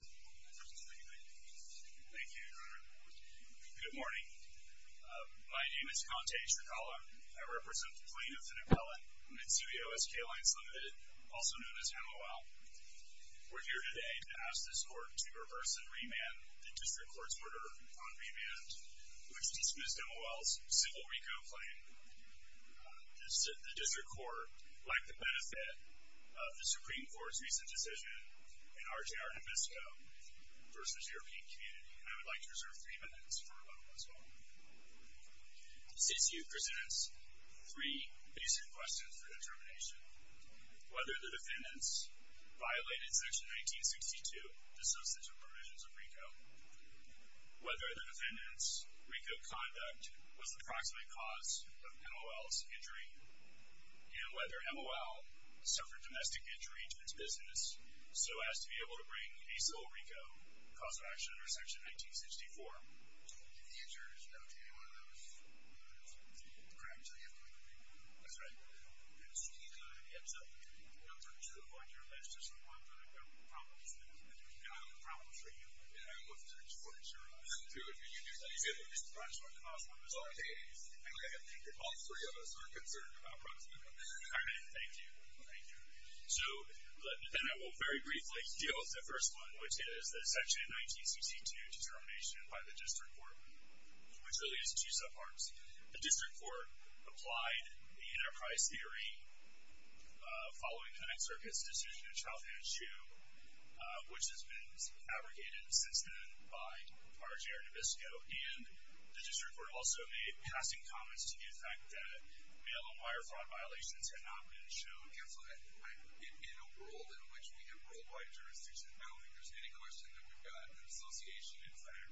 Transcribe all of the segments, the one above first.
Thank you. Good morning. My name is Conte Shikala. I represent the plaintiff and appellate, Mitsui O.S.K. Lines, Ltd., also known as MOL. We're here today to ask this court to reverse and remand the district court's order on remand, which dismissed MOL's civil RICO claim. The district court liked the benefit of the MOL v. European Community, and I would like to reserve three minutes for a little response. C.C.U. presents three recent questions for determination. Whether the defendants violated Section 1962 dissociative provisions of RICO, whether the defendants' RICO conduct was the proximate cause of MOL's injury, and whether MOL suffered domestic injury to its business so as to be able to bring a civil RICO cause of action under Section 1964. The answer is no to any one of those crimes that you have pointed out. That's right. Yes, sir. I'm not trying to avoid your list. I just want to know if there are problems that have been identified. Problems for you? Yeah. What's the difference between you and me? You said you said it was the proximate cause of MOL's injury. I did. I think that all three of us are concerned about proximate causes. All right. Thank you. Thank you. So then I will very briefly deal with the first one, which is the Section 1962 determination by the District Court, which really is two subparts. The District Court applied the Enterprise Theory following the Next Circuit's decision of Chow-Hanshu, which has been abrogated since then by R.J. Arnabisco. And the District Court also made passing comments to the effect that wire fraud violations had not been shown. Counselor, in a world in which we have worldwide jurisdictions, I don't think there's any question that we've got an association, in fact,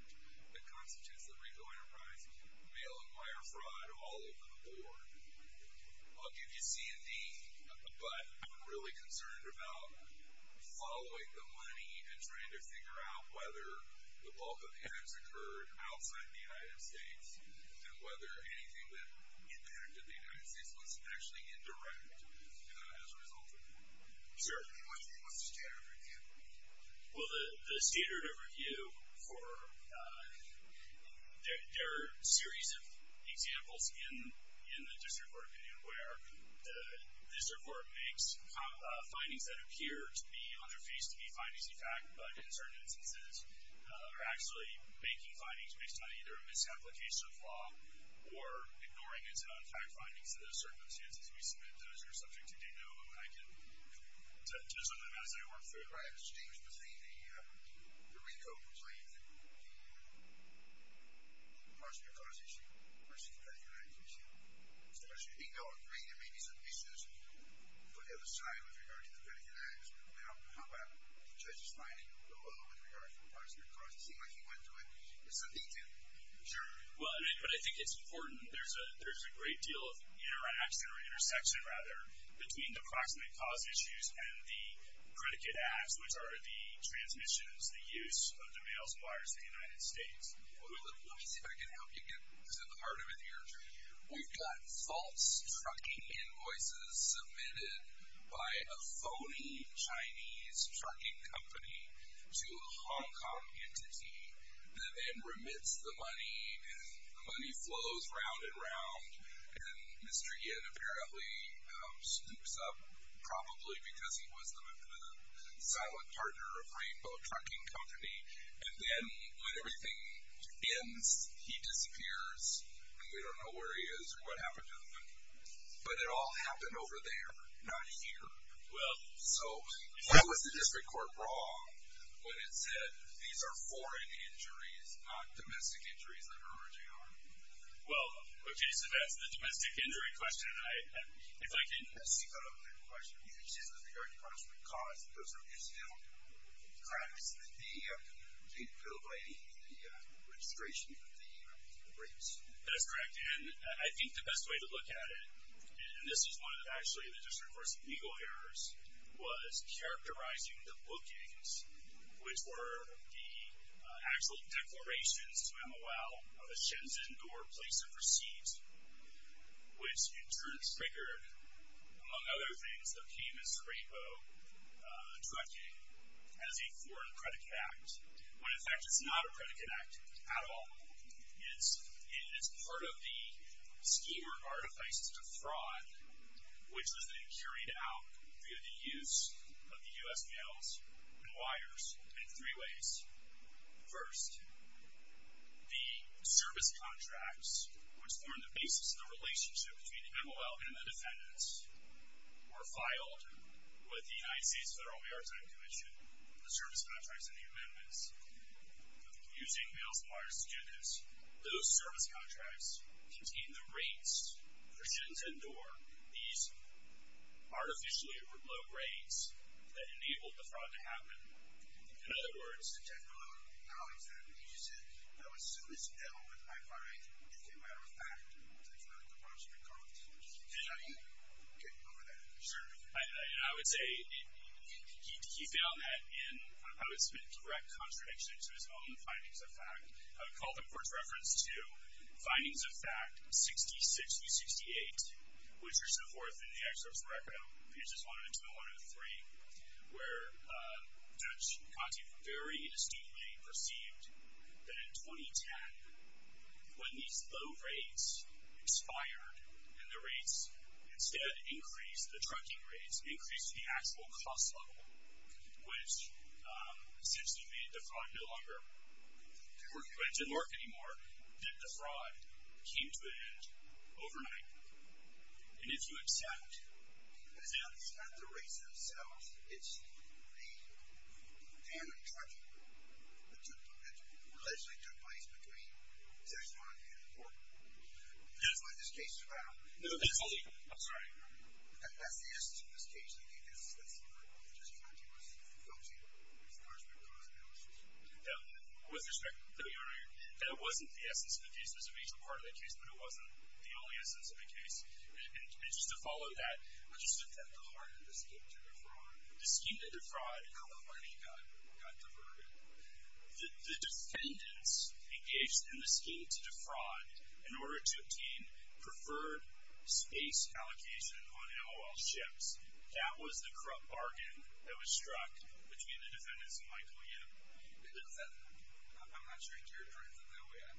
that constitutes the Rico Enterprises mail and wire fraud all over the board. I'll give you C&D, but I'm really concerned about following the money and trying to figure out whether the bulk of it has occurred outside the United States and whether anything that has occurred in the United States was actually indirect as a result of it. Sir? What's the standard of review? Well, the standard of review for — there are a series of examples in the District Court opinion where the District Court makes findings that appear to be on their face to be findings, in fact, but in certain instances are actually making findings based on either a misapplication of law or ignoring its own fact findings to those circumstances. We submit those who are subject to DINO, and I can do something about it as I work through it. Right. Mr. James, but the Rico complaint, the Parks and Recalls issue versus the FedEx United case, there was a DINO agreement. There may be some issues on the other side with regard to the FedEx United. Now, how about the judge's finding below with regard to the Parks and Recalls? It seemed like he went to it. Is something different? Sure. Well, but I think it's important. There's a great deal of interaction or intersection, rather, between the approximate cause issues and the predicate acts, which are the transmissions, the use of the mail suppliers in the United States. Let me see if I can help you get to the heart of it here. Sure. We've got false trucking invoices submitted by a phony Chinese trucking company to a Hong the money, and the money flows round and round, and Mr. Yin apparently snoops up, probably because he was the silent partner of Rainbow Trucking Company. And then when everything ends, he disappears, and we don't know where he is or what happened to him, but it all happened over there, not here. Well, so what was the district court wrong when it said these are foreign injuries, not domestic injuries that are emerging on them? Well, okay, so that's the domestic injury question, and if I can- Let's see if I don't get to the question. You can say it's not the direct cause, but the cause of the incident, correct? It's the field lady and the registration of the brakes. That's correct, and I think the best way to look at it, and this is one that actually the district court's legal errors, was characterizing the bookings, which were the actual declarations to MOL of a Shenzhen door place of receipt, which in turn triggered, among other things, the famous Rainbow Trucking as a foreign credit act, when in fact it's not a credit act at all. It's part of the schema of artifices of fraud, which has been carried out through the use of the U.S. mails and wires in three ways. First, the service contracts, which form the basis of the relationship between the MOL and the defendants, were filed with the United States Federal Maritime Commission, the service contracts and the amendments, using mails and wires to do this. Those service contracts contained the rates for Shenzhen door, these artificially remote rates that enabled the fraud to happen. In other words, Jeff, among the colleagues that have been using it, I would assume it's still with I-5-8, which came out of FACT, which is not the branch of the court. Is that right? Okay, go with that. Sure, and I would say he found that in, I would submit direct contradiction to his own findings of FACT. I would call the court's reference to findings of FACT 66-68, which are so forth in the excerpts pages 1-2 and 1-3, where Judge Conti very distinctly perceived that in 2010, when these low rates expired and the rates instead increased, the trucking rates increased to the actual cost level, which essentially made the fraud no longer work, but it didn't work anymore, that the fraud came to an end overnight. And if you accept that it's not the rates themselves, it's the damning trucking that took, that allegedly took place between Shenzhen and the court, that's what this case is about. No, that's the, I'm sorry, go ahead. That's the essence of this case. I think that's what Judge Conti was focusing on, as far as the cause analysis. Yeah, with respect, that wasn't the essence of the case. I mean, the cause analysis was a major part of the case, but it wasn't the only essence of the case. And just to follow that, I just looked at the heart of the scheme to defraud. The scheme to defraud. How much money got, got deferred? The defendants engaged in the scheme to defraud in order to obtain preferred space allocation on MOL ships. That was the corrupt bargain that was struck between the defendants and Michael Yip. Is that, I'm not sure you're interpreting it that way.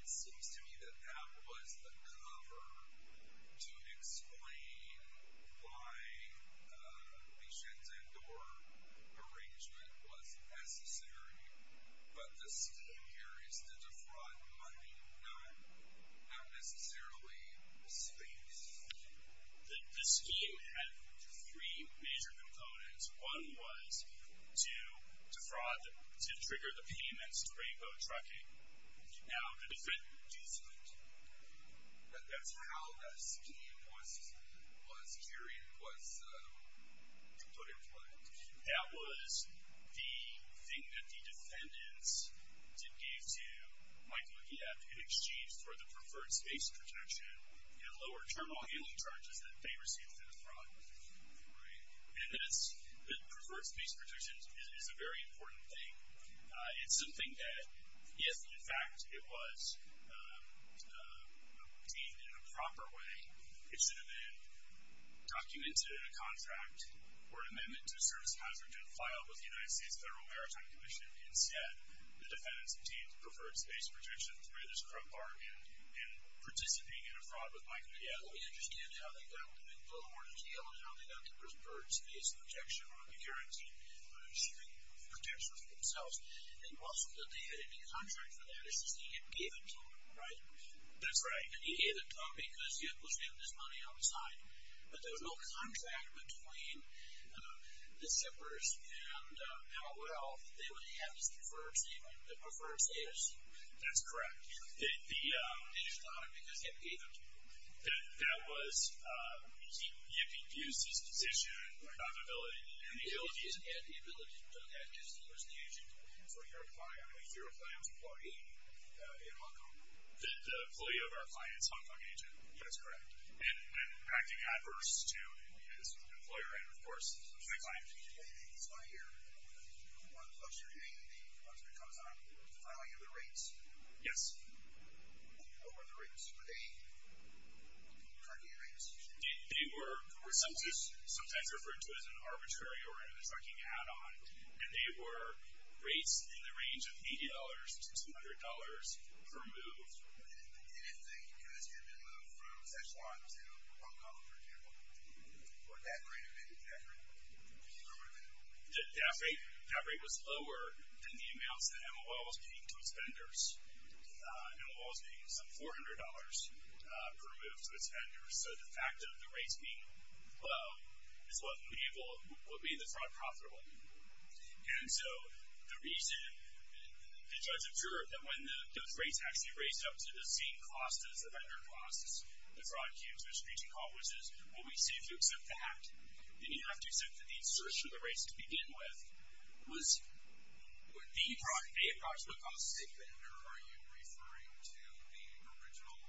It seems to me that that was the cover to explain why the Shenzhen door arrangement was necessary. But the scheme here is to defraud money, not necessarily space. The scheme had three major components. One was to defraud, to trigger the payments to Rainbow Trucking. Now, the defendants, that's how that scheme was carried, was put in place. That was the thing that the defendants gave to Michael Yip in exchange for the preferred space protection and lower terminal handling charges that they received through the fraud. Right. And that's, the preferred space protection is a very important thing. It's something that if, in fact, it was obtained in a proper way, it should have been documented in a contract or an amendment to a service hazard and filed with the United States Federal Maritime Commission. Instead, the defendants obtained the preferred space protection through this corrupt bargain and participating in a fraud with Michael Yip. I don't understand how they got to make a little more detail on how they got the preferred space protection or the currency protection for themselves. It wasn't that they had any contract for that. It's just that Yip gave it to them, right? That's right. And he gave it to them because Yip was having his money on the side. But there was no contract between the shippers and L.O.L. that they would have this preferred saving, the preferred space. That's correct. They just got it because Yip gave it to them. That was Yip Yip Yiu's decision, not his ability. Yip Yiu didn't have the ability to do that. Yip Yiu was the agent. And so you're applying, I believe you're applying as an employee in Hong Kong. The employee of our client is a Hong Kong agent. That's correct. And acting adverse to his employer and, of course, to the client. So I hear one of the books you're doing, the book that comes out, is defining other rates. Yes. What were the rates? Were they trucking rates? They were sometimes referred to as an arbitrary or a trucking add-on. And they were rates in the range of $80 to $200 per move. And if the goods had been moved from Sichuan to Hong Kong, for example, what that rate would have been? Would that rate have been lower? That rate was lower than the amounts that M.O.L. was paying to its vendors. M.O.L. was paying some $400 per move to its vendors. So the fact of the rates being low is what made the fraud profitable. And so the reason it does occur that when those rates actually raised up to the same cost as the vendor costs, the fraud came to a screeching halt, which is, well, we saved you except that. Then you have to accept that the insertion of the rates to begin with was the fraud. So if I say vendor, are you referring to the original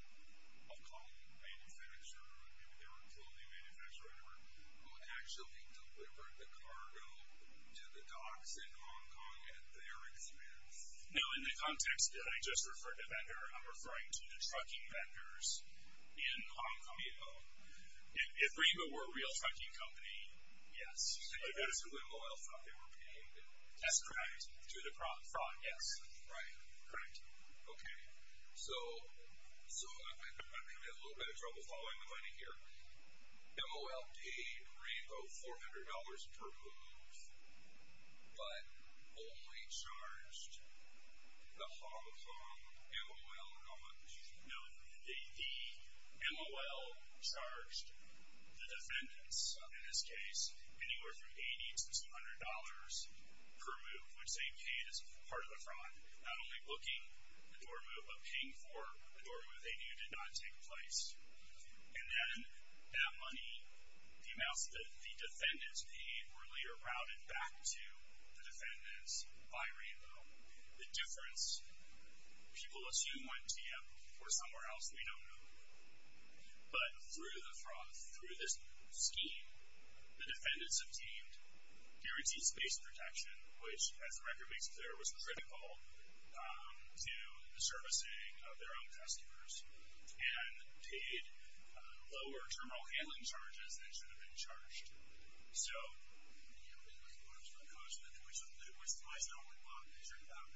Hong Kong manufacturer, or maybe they were a clothing manufacturer, or whatever, who actually delivered the cargo to the docks in Hong Kong at their expense? No, in the context that I just referred to vendor, I'm referring to the trucking vendors in Hong Kong. If Revo were a real trucking company, yes. But that is who M.O.L. thought they were paying to? That's correct. To the fraud, yes. Right, correct. Okay, so I'm going to get in a little bit of trouble following the money here. M.O.L. paid Revo $400 per move, but only charged the Hong Kong M.O.L. not much. No, the M.O.L. charged the defendants, in this case, anywhere from $80 to $100 per move, which they paid as part of the fraud, not only booking a door move, but paying for a door move they knew did not take place. And then that money, the amounts that the defendants paid, were later routed back to the defendants by Revo. The difference, people assume went to the M.O.L. or somewhere else. We don't know. But through the fraud, through this scheme, the defendants obtained guaranteed space protection, which, as the record makes clear, was critical to the servicing of their own customers, and paid lower terminal handling charges than should have been charged. So... Yeah, but there's an approximate cause to that. Which is why it's not what Bob is talking about.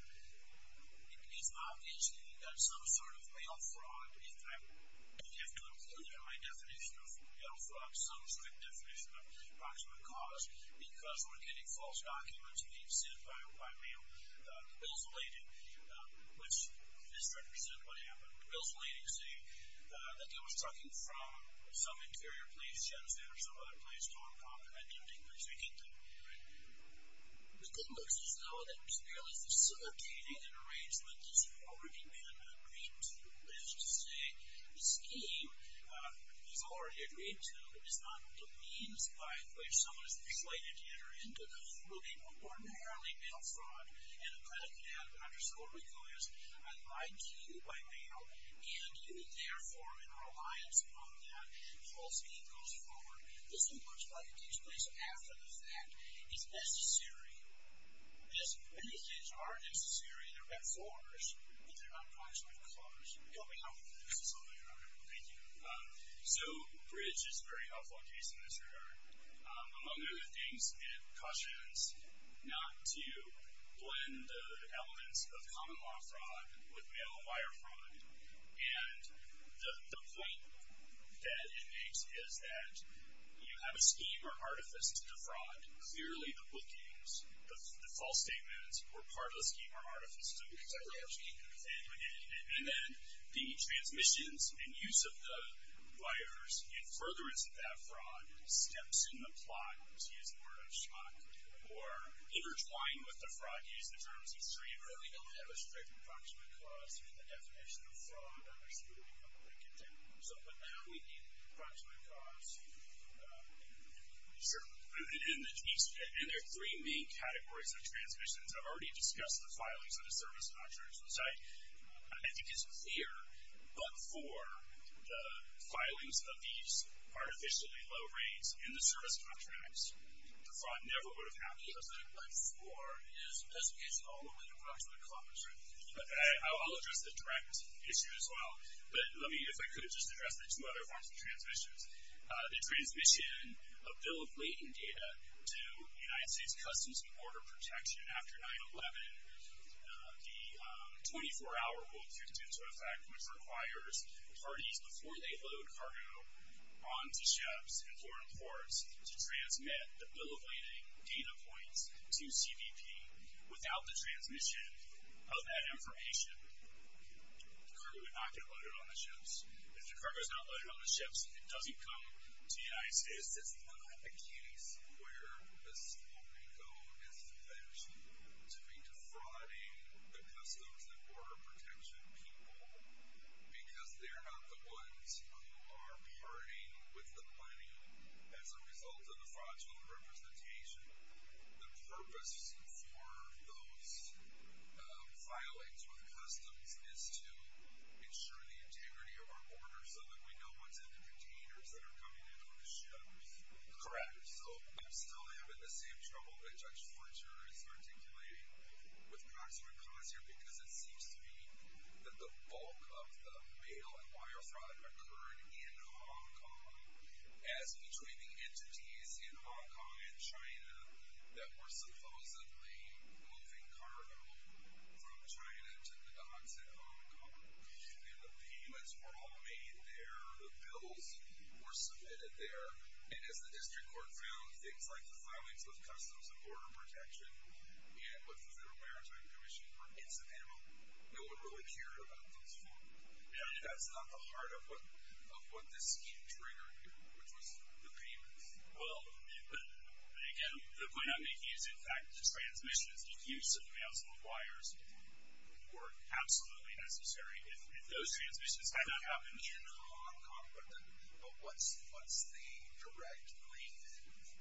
It's obvious that you've got some sort of mail fraud. In fact, you have to include in my definition of mail fraud some sort of definition of approximate cause, because we're getting false documents being sent by mail. The bills related, which misrepresent what happened, the bills relating to say that they were sucking from some interior place, Shenzhen or some other place, Hong Kong, and attempting to take it there. Right. The good news is, though, that merely facilitating an arrangement that's already been agreed to is to say, the scheme you've already agreed to is not the means by which someone is slated to enter into, will be ordinarily mail fraud, and a kind of manhunt or so will be coerced by you, by mail, and you will therefore, in reliance upon that, falsely go forward. This is what's going to take place after the fact is necessary. Yes, many things are necessary. They're meant for us, but they're not actually for us. Can you tell me how we can do this in some way or another? Thank you. So, Bridge is a very helpful case in this regard. Among other things, it cautions not to blend the elements of common law fraud with mail wire fraud, and the point that it makes is that you have a scheme or artifice to defraud. Clearly, the bookings, the false statements, or part of the scheme are artifice to defraud. Yes. And then, the transmissions and use of the wires in furtherance of that fraud steps in the plot into his word of shock, or intertwined with the fraud used in terms of streamlining. We don't have a strict approximate cost. The definition of fraud, I'm assuming, I'm going to get to. So, but now we need approximate costs. Sure. And there are three main categories of transmissions. I've already discussed the filings of the service contracts, which I think is clear, but for the filings of these artificially low rates in the service contracts, the fraud never would have happened. Yes, but for his specifications, although with approximate costs, right? I'll address the direct issue as well. But let me, if I could, just address the two other forms of transmissions. The transmission of bill of lading data to United States Customs and Border Protection after 9-11. The 24-hour rule, if you're tuned to a fact, which requires parties, before they load cargo onto ships and foreign ports, to transmit the bill of lading data points to CBP. Without the transmission of that information, the cargo would not get loaded on the ships. If the cargo is not loaded on the ships, it doesn't come to the United States. It's not the case where Estopico is fit to be defrauding the Customs and Border Protection people because they're not the ones who are partying with the money as a result of the fraudulent representation. The purpose for those filings with Customs is to ensure the integrity of our borders so that we know what's in the containers that are coming in on the ships. Correct. So, I'm still having the same trouble that Judge Fletcher is articulating with Proxima Concierge because it seems to me that the bulk of the mail and wire fraud occurred in that were supposedly moving cargo from China to the Docks at Hong Kong, and the payments were all made there. The bills were submitted there, and as the District Court found, things like the filings with Customs and Border Protection and with the Federal Maritime Commission were incidental. No one really cared about those four. That's not the heart of what this scheme triggered here, which was the payments. Well, again, the point I'm making is, in fact, the transmissions, the use of mails and wires were absolutely necessary. If those transmissions had not happened in Hong Kong, but what's the direct link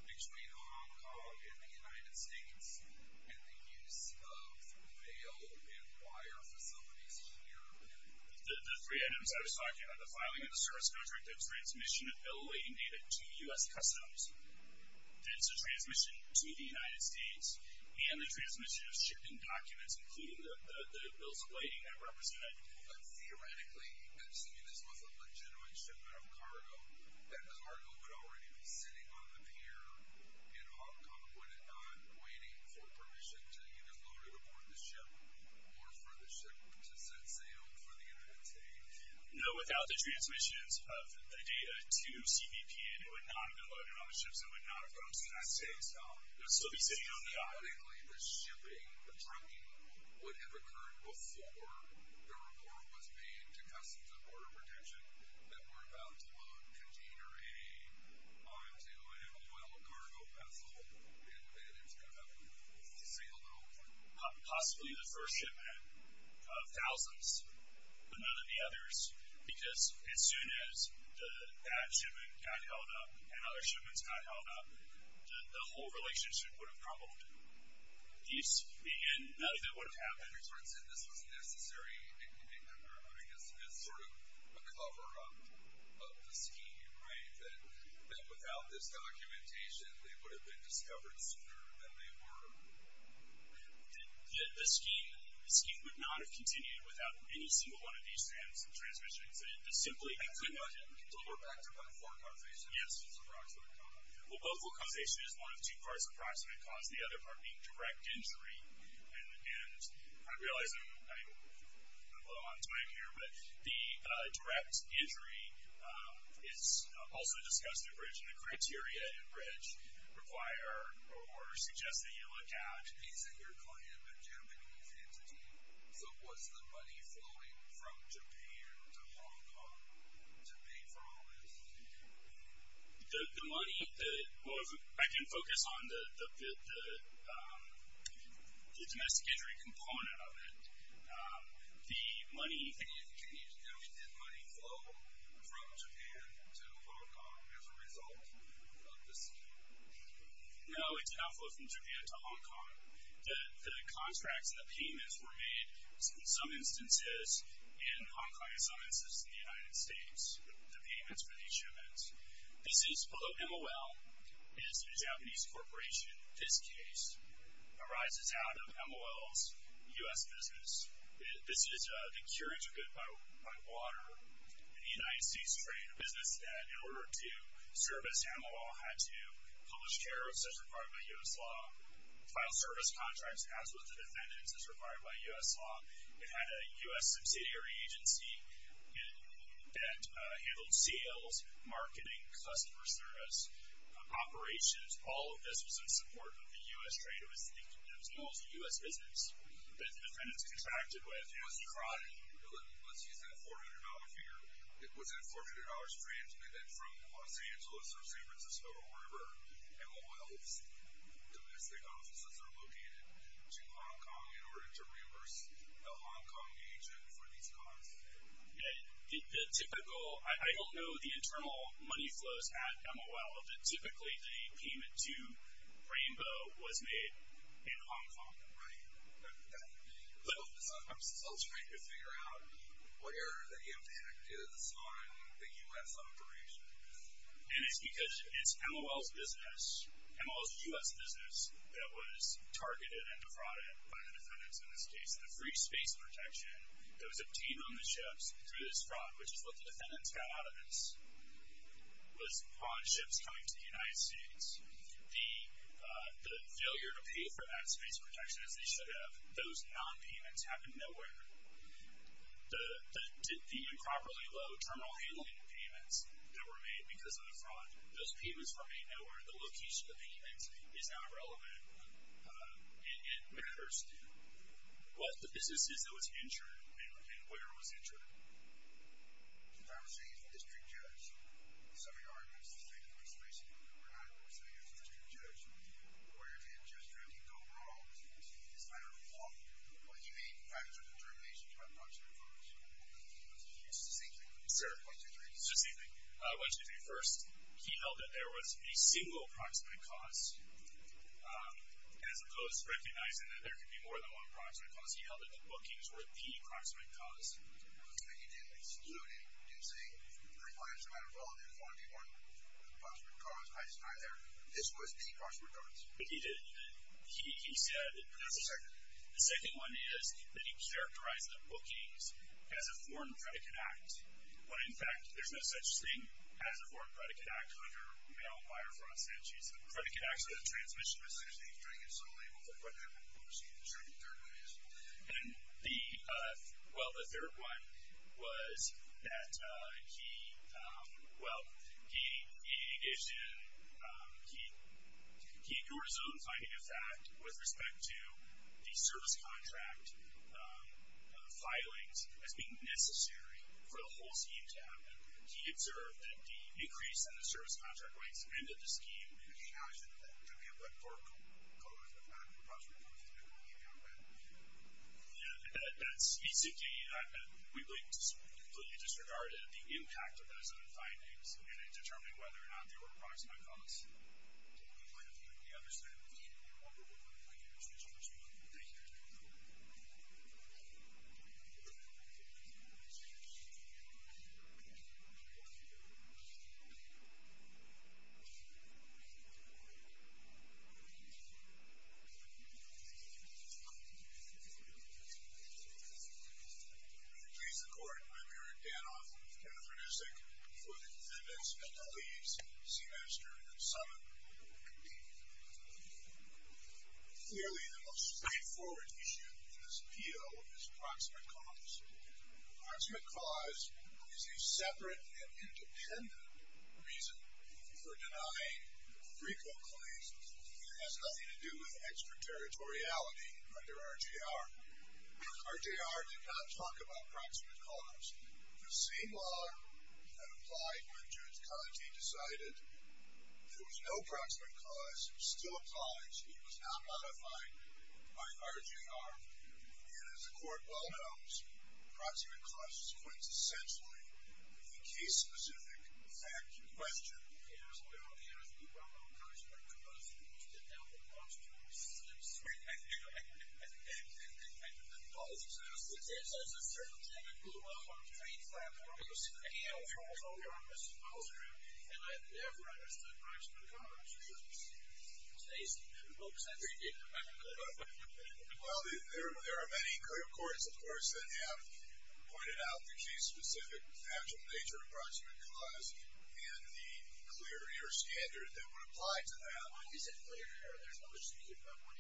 between Hong Kong and the United States and the use of mail and wire facilities here? The three items I was talking about, the filing of the service contract, the transmission of bill-awaiting data to U.S. Customs, the transmission to the United States, and the transmission of shipping documents, including the bills of waiting that were presented. But theoretically, assuming this was a legitimate shipment of cargo, that cargo would already be sitting on the pier in Hong Kong, would it not be waiting for permission to either load or deport the ship, or for the ship to set sail for the United States? No, without the transmissions of the data to CBP, it would not have been loaded on the ships, it would not have come to the United States. It would still be sitting on the island. So theoretically, the shipping, the trucking, would have occurred before the report was made to Customs and Border Protection that we're about to load container A onto an oil cargo vessel, and that it's going to be sailed over. This is possibly the first shipment of thousands, but none of the others, because as soon as that shipment got held up, and other shipments got held up, the whole relationship would have crumbled. And none of it would have happened. So you're saying this was a necessary, I guess, sort of a cover-up of the scheme, right? That without this documentation, they would have been discovered sooner than they were discovered. The scheme would not have continued without any single one of these transmissions, it simply could not have happened. I take it we can still go back to both forecausation and approximate cause? Well, both forecausation is one of two parts of approximate cause, the other part being direct injury. And I realize I'm a little on time here, but the direct injury is also discussed at bridge, and the criteria at bridge require or suggest that you look at... So basically you're calling it a Japanese entity, so was the money flowing from Japan to Hong Kong to pay for all this? The money, I can focus on the domestic injury component of it, the money... Can you tell me, did money flow from Japan to Hong Kong as a result of the scheme? No, it did not flow from Japan to Hong Kong. The contracts and the payments were made in some instances in Hong Kong and some instances in the United States, the payments for these humans. This is, although MOL is a Japanese corporation, this case arises out of MOL's U.S. business. This is the cure-integrate by water in the United States trade, a business that, in order to service MOL, had to publish tariffs as required by U.S. law, file service contracts as with the defendants as required by U.S. law. It had a U.S. subsidiary agency that handled sales, marketing, customer service, operations. All of this was in support of the U.S. trade, it was MOL's U.S. business that the defendants contracted with. So you just tried, let's use that $400 figure, was that $400 transmitted from Los Angeles or San Francisco or wherever MOL's domestic offices are located, to Hong Kong in order to reimburse a Hong Kong agent for these costs? Yeah, the typical, I don't know the internal money flows at MOL, but typically the payment to Rainbow was made in Hong Kong. Right, but I'm still trying to figure out where the impact is on the U.S. operations. And it's because it's MOL's business, MOL's U.S. business, that was targeted and defrauded by the defendants in this case. The free space protection that was obtained on the ships through this fraud, which is what the defendants got out of this, was on ships coming to the United States. The failure to pay for that space protection, as they should have, those non-payments happened nowhere. The improperly low terminal handling payments that were made because of the fraud, those payments remain nowhere. The location of the payments is not relevant and it matters to what the business is that was injured and where it was injured. So if I were sitting here as a district judge, some of your arguments to say that the free space that we're at, if we're sitting here as a district judge, where did Judge Randy go wrong? Is he misguided or wrong? Will he make factual determinations about approximate costs? Is this the same thing? Sir? It's the same thing. What he did first, he held that there was a single approximate cost, as opposed to recognizing that there could be more than one approximate cost, he held that the bookings were the approximate cost. But he didn't exclude it. He didn't say, it requires the amount of volume for the one approximate cost. I just tied there. This was the approximate cost. But he did, he said- That's the second. The second one is that he characterized the bookings as a foreign predicate act. When in fact, there's no such thing as a foreign predicate act under malwire fraud statutes. Predicate acts are the transmission of the same thing, it's unlabeled. But what happened was he determined third ways. And the, well, the third one was that he, well, he ignored his own finding of fact with respect to the service contract filings as being necessary for the whole scheme to happen. He observed that the decrease in the service contract rates ended the scheme. How is it that, to be able to foreclose the fact of the approximate cost, he didn't leave it out there? Yeah, that's basically, I mean, we completely disregarded the impact of those other findings in determining whether or not there were approximate costs. I think the other side of the coin, if you want to go back to the previous question, which we want you to take care of now. I'm Eric Danoff, with Kenneth Radicek, for the Defendants and Police, Seamaster and Summitt. Clearly, the most straightforward issue in this appeal is approximate cost. Approximate cost is a separate and independent reason for denying frequent claims. It has nothing to do with extraterritoriality under RGR. RGR did not talk about approximate cost. The same law that applied when Judge Conte decided there was no approximate cost still applies. It was not modified by RGR. And as the Court well knows, approximate cost is quintessentially a case-specific fact question. Yes, well, yes, you brought up approximate cost, and you've been down for months trying to slip straight back to it. And I've been told that there's a certain type of rule of law on the train platform, and you've said, again, I'm sure as long as you're on this advisory group, and I've never understood approximate cost. It's just crazy. Well, because I've been reading about it. Well, there are many clear courts, of course, that have pointed out the case-specific actual nature of approximate cost and the clear error standard that would apply to that. Why is it clear error? There's no such thing as a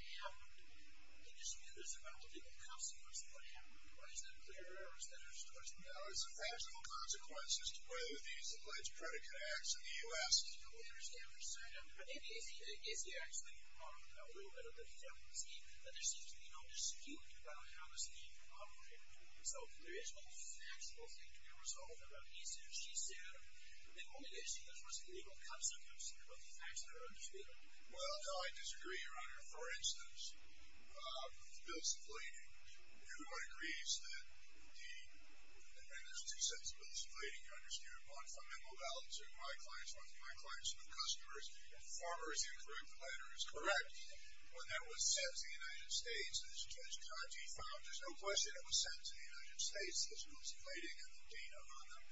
1.5. It just means there's a relative consequence of 1.5. Why is it a clear error instead of just a 1.5? It's a practical consequence as to whether these alleged predicate acts in the U.S. I don't understand what you're saying. Maybe Izzy actually brought up a little bit of the fact that there seems to be no dispute about how this thing operated. So there is no factual thing to be resolved about Izzy if she said that the only issue that was a legal consequence was the facts that are understated. Well, no, I disagree, Your Honor. For instance, bills of lading, everyone agrees that the—and there's two sets of bills of lading you're understating. One from Immobiles, one from my clients, one from my clients with customers, and the former is incorrect, the latter is correct. When that was sent to the United States, as Judge Cotty found—there's no question it was sent to the United States as bills of lading and the data on them,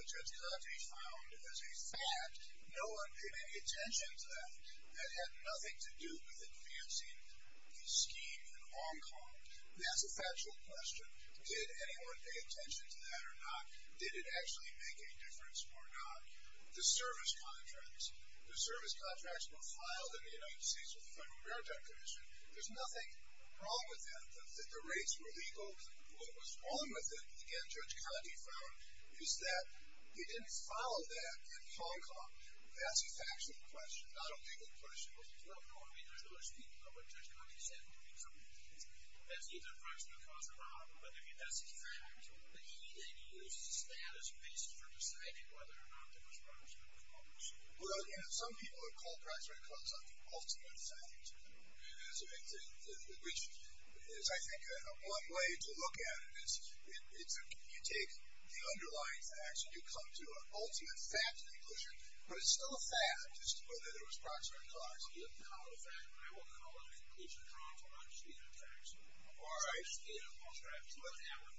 but Judge Cotty found as a fact no one paid any attention to that. That had nothing to do with advancing the scheme in Hong Kong. That's a factual question. Did anyone pay attention to that or not? Did it actually make a difference or not? The service contracts, the service contracts were filed in the United States with the Federal Maritime Commission. There's nothing wrong with that, that the rates were legal. What was wrong with it, again, Judge Cotty found, is that he didn't follow that in Hong Kong. That's a factual question, not a legal question. Well, no, I mean, there's no dispute about what Judge Cotty said. Well, you know, some people would call proximate cause an ultimate fact, which is, I think, one way to look at it is you take the underlying facts and you come to an ultimate fact in English, but it's still a fact as to whether there was proximate cause. I'm not disputing that fact. All right. I'm not disputing that false fact, but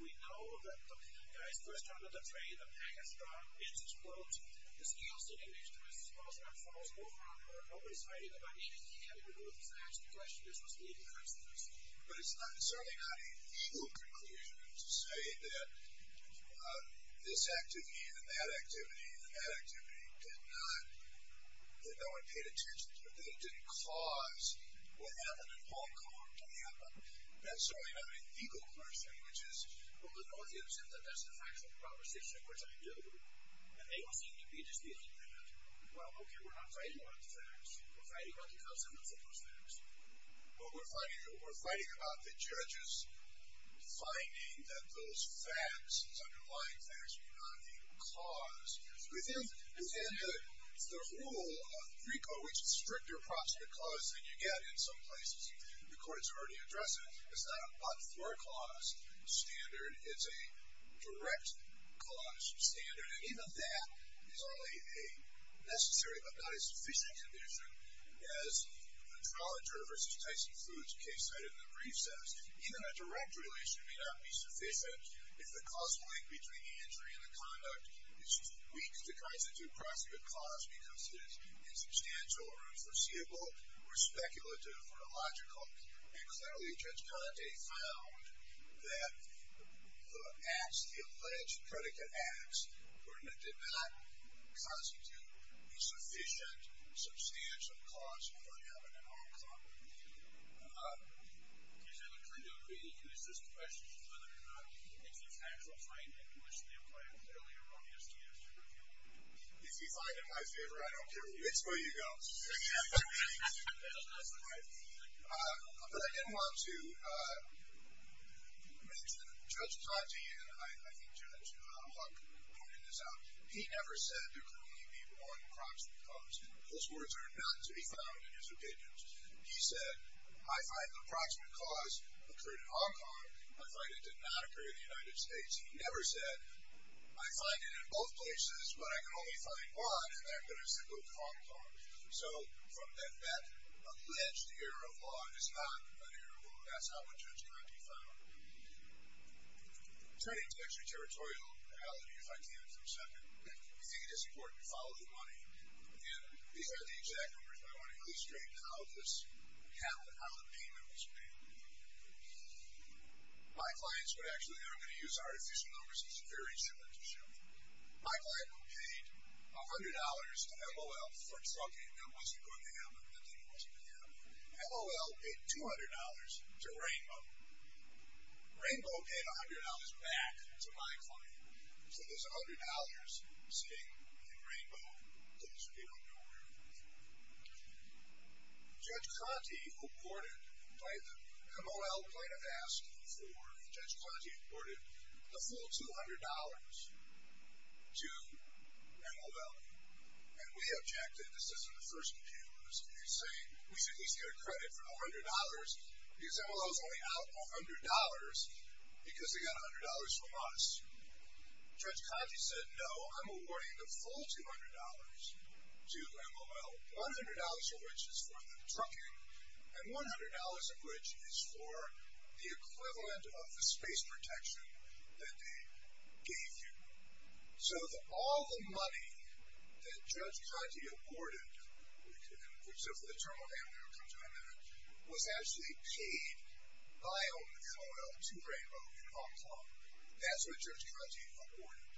we know that the guy's first time on the train, the package dropped, the bins exploded. This deals in English to us as well, so that follows over on her. Nobody's fighting about anything having to do with this actual question as to what's leading up to this. But it's certainly not a legal conclusion to say that this activity and that activity did not, that no one paid attention to, that it didn't cause what happened in Hong Kong to happen. That's certainly not a legal conclusion, which is, well, the Northeasterns said that that's the factual proposition, which I do, and they seem to be disputing that. Well, okay, we're not fighting about the facts. We're fighting about the consequences of those facts. Well, we're fighting about the judges finding that those facts, these underlying facts, are the cause. We think, again, the rule of FICO, which is stricter approximate cause than you get in some places, the courts are already addressing, it's not a but-for clause standard. It's a direct cause standard, and even that is only a necessary but not a sufficient condition, as the Trollager v. Tyson Foods case cited in the brief says. Even a direct relation may not be sufficient if the causal link between the injury and the conduct is too weak to constitute prosecute cause because it is insubstantial or unforeseeable or speculative or illogical. And clearly Judge Conte found that the acts, the alleged predicate acts, did not constitute a predicate. Do you have a clean-up reading to assist the question as to whether or not it's his actual finding which they applied earlier on the SDS Tribunal? If you find it in my favor, I don't care where you go. It's where you go. But I did want to mention that Judge Conte, and I think Judge Huck pointed this out, he never said there could only be one cause. Those words are not to be found in his opinions. He said, I find the approximate cause occurred in Hong Kong. I find it did not occur in the United States. He never said, I find it in both places, but I can only find one, and they're going to say, look, Hong Kong. So from that, that alleged error of law is not an error of law. That's not what Judge Conte found. Turning to extraterritorial reality, if I can for a second, I think it is important to follow the money. And these are the exact numbers, but I want to illustrate how the payment was paid. My clients would actually, and I'm going to use artificial numbers because it's very similar to show. My client paid $100 to LOL for trucking. That wasn't going to happen. That thing wasn't going to happen. LOL paid $200 to Rainbow. Rainbow paid $100 back to my client. So there's $100 sitting in Rainbow. Those people don't know where it is. Judge Conte awarded, by the, LOL might have asked for, Judge Conte awarded the full $200 to LOL. And we objected. This isn't the first computer. This is insane. We should at least get a credit for $100 because LOL is only out $100 because they got $100 from us. Judge Conte said, no, I'm awarding the full $200 to LOL, $100 of which is for the trucking and $100 of which is for the equivalent of the space protection that they gave you. So all the money that Judge Conte awarded, and we can, so for the term of amnesty I'll come to in a minute, was actually paid by LOL to Rainbow in Hong Kong. That's what Judge Conte awarded.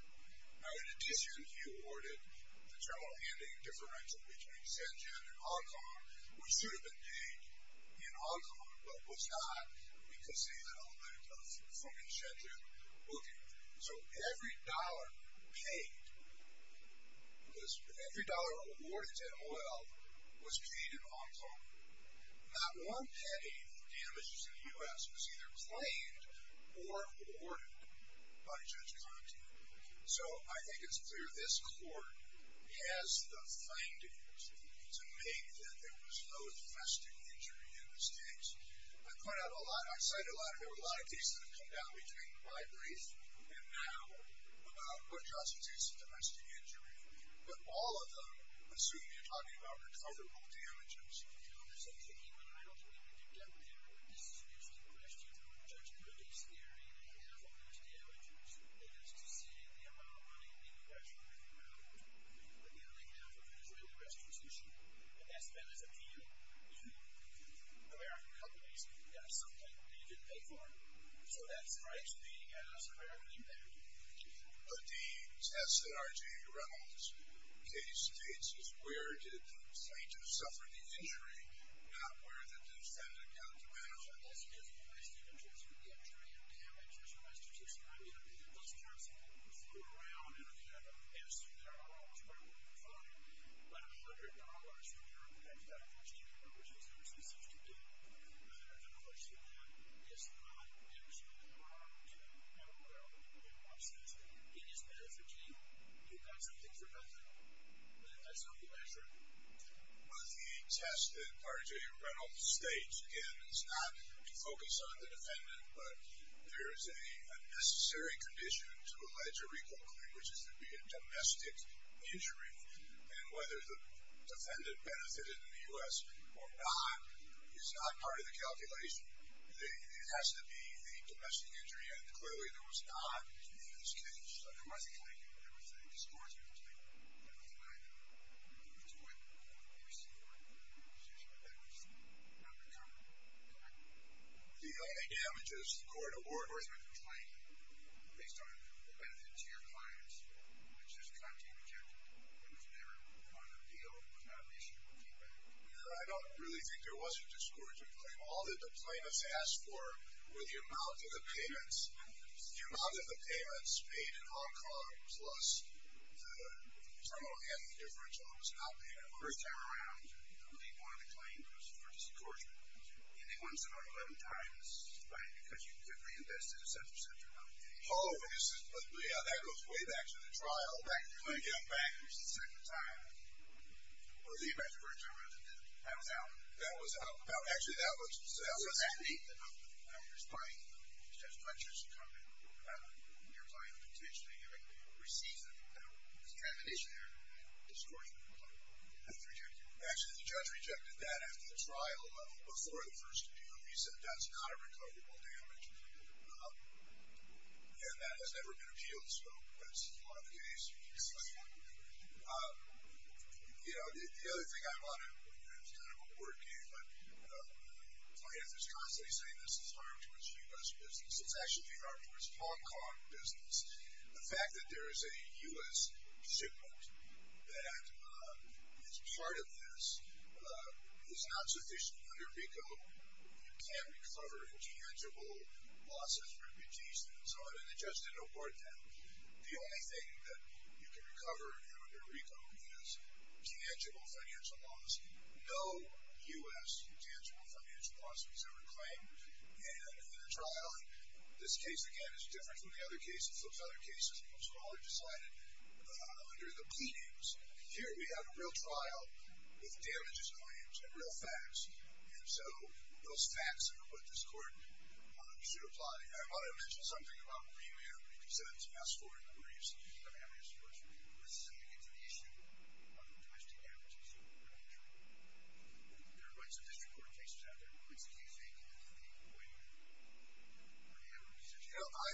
Now, in addition, he awarded the terminal handing differential between Shenzhen and Hong Kong, which should have been paid in Hong Kong, but was not. We can see that on the from Shenzhen booking. So every dollar paid, every dollar awarded to LOL was paid in Hong Kong. Not one penny for damages in the U.S. was either claimed or awarded by Judge Conte. So I think it's clear this court has the findings to make that there was no infested injury in this case. I point out a lot, I cited a lot of, there were a lot of cases that have come down between my brief and now about what justifies a domestic injury, but all of them assume you're talking about recoverable damages. You know, there's something even I don't think we can do down there, but this is used as a question for Judge Conte's theory that half of those damages, they get a successive amount of money being recovered from the ground, but the other half of an Israeli restitution, and that's spent as a fee on American companies, got something that they didn't pay for. So that strikes me as a very good thing. But the test that R.J. Reynolds' case states is where did the plaintiff suffer the injury, not where the defendant got the benefit. So this is the best interest for the entry and damage, as you might suggest. I mean, I mean, in those times, people flew around and if you had a pest, there are almost very little to find, but a hundred dollars for your infested injury, which is a successive amount of money being recovered from the ground, but the other half of an Israeli restitution, whether there's a push for that, is not actually the problem. It's not where everybody wants this. It is benefiting. You got something for nothing. But that's how we measure it. Well, the test that R.J. Reynolds states, again, is not to focus on the defendant, but there's a necessary condition to allege a recall claim, which is to be a domestic injury, and whether the defendant benefited in the U.S. or not is not part of the calculation. It has to be the domestic injury, and clearly there was not in this case. So there was a claim here, but there was a discouraging claim. There was a claim that the plaintiff would be deployed to court and receive a repossession of damages, not recover, go back to court. The only damages, the court awarded. Or is there a complaining, based on the benefit to your clients, which is a contained objective? It was never part of the deal. It was not an issue. I don't really think there was a discouraging claim. All that the plaintiffs asked for were the amount of the payments. The amount of the payments paid in Hong Kong plus the terminal and the differential was not paid in Hong Kong. The first time around, they wanted a claim for discouragement. And they wanted some 11 times. Right. Because you could reinvest it at 7% or something. Oh, yeah, that goes way back to the trial. Oh, back to the trial. Yeah, back. It was the second time. Or was it the first time around? That was out. That was out. Actually, that was out. What does that mean? It's fine. It's just my judgment. I don't know. Your client intentionally received this termination here, discouraging the complaint. That's rejected. Actually, the judge rejected that after the trial, before the first appeal. He said that's not a recoverable damage. And that has never been appealed. So that's not the case. You know, the other thing I want to... It's kind of a word game. But the plaintiff is constantly saying this is harm to his U.S. business. It's actually harm to his Hong Kong business. The fact that there is a U.S. shipment that is part of this is not sufficient under RICO. It's not enough. It's not enough. It's not enough. It's not enough. There are legal damages that can't be recovered in tangible losses for your clients and so on. The judge didn't award them. The only thing that you can recover under RICO is tangible financial loss. No U.S. tangible financial loss was ever claimed. And in the trial... The case again is different from the other cases. Other cases, Mostly decided under the pleadings. Here, we have a real trial with damages claimed. And real facts. And so, those facts are now... I'm not going to say what this court should apply. I want to mention something about premium. Because that's asked for in the briefs. This is to get to the issue of domestic damages. There are rights of district court cases out there. What do you think of the appointment? You know, I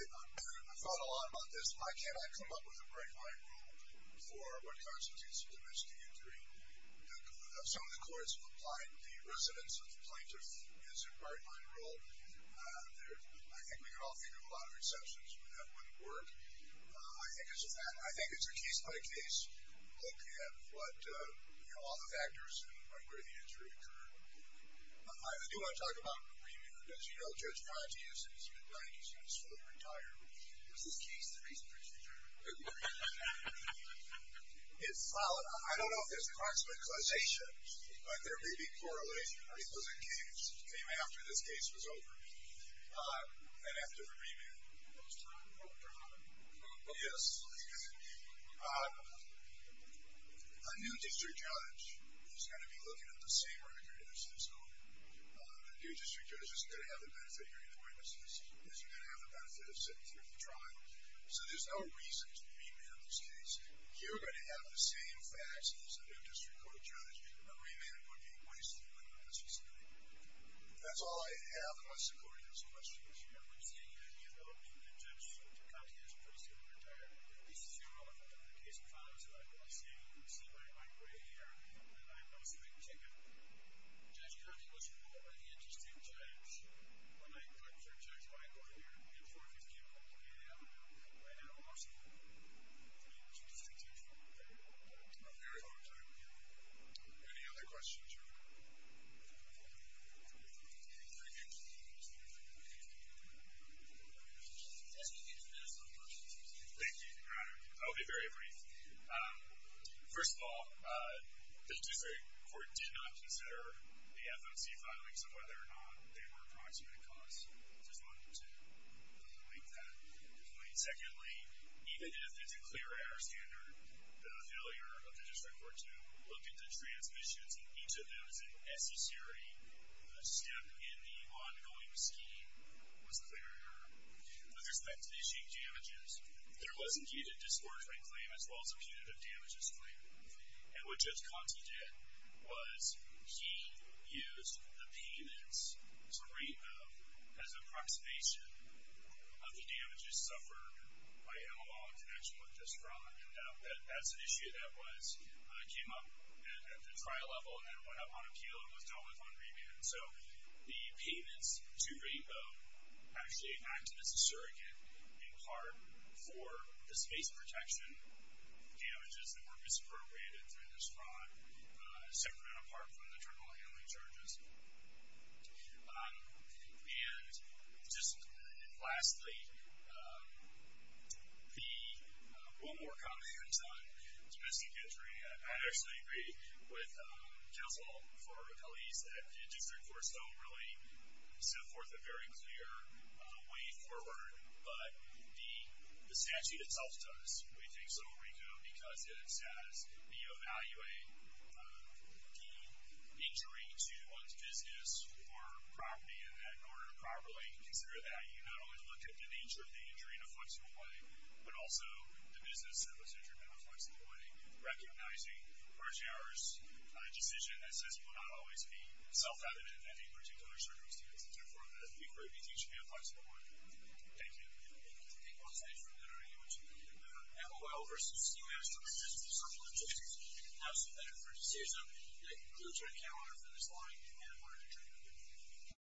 thought a lot about this. Why can't I come up with a break line rule for what constitutes a domestic injury? Because that's asked for in the briefs. There are rights of district court cases out there. Why can't I come up with a break line rule? I think we can all think of a lot of exceptions. But that wouldn't work. I think it's a case-by-case look at what... You know, all the factors. And where the injury occurred. I do want to talk about the premium. Because, you know, Judge Fanti has said he's been dying to see this court retire. Is this case the reason for his return? It's solid. But there may be correlation. Because it came after this case. After this case was over. And after the remand. A new district judge is going to be looking at the same record as his own. A new district judge isn't going to have the benefit of hearing the witnesses. Isn't going to have the benefit of sitting through the trial. So there's no reason to remand this case. You're going to have the same facts as a new district court judge. A remand would be a waste of time. That's all I have. Unless the court has questions. Any other questions? Any further questions? Thank you, Your Honor. I'll be very brief. First of all, the district court did not consider the FMC filings and whether or not they were approximated costs. I just wanted to point that. Secondly, even if it's a clear error standard, the failure of the district court to look at the transmissions and each of those as a necessary step in the ongoing scheme was a clear error. With respect to the issue of damages, there was indeed a disbursement claim as well as a punitive damages claim. And what Judge Conte did was he used the payments to rate them as an approximation of the damages suffered by MLL in connection with this crime. That's an issue that came up at the trial level and went up on appeal and was dealt with on remand. So the payments to RAPO actually acted as a surrogate in part for the space protection damages that were misappropriated through this crime, separate and apart from the terminal handling charges. And lastly, one more comment on domestic injury. I actually agree with Counsel for Police that the district courts don't really set forth a very clear way forward, but the statute itself does, we think, because it says we evaluate the injury to one's business or property and that in order to properly consider that, you not only look at the nature of the injury in a flexible way, but also the business that was injured in a flexible way, recognizing, largely ours, a decision that says it will not always be self-evident in any particular circumstance. Therefore, it would be great if you teach me a flexible way. Thank you. Thank you. MLL v. CMS to assist the subcontractors in how to prepare for the season. That concludes our calendar for this morning, and we're adjourned.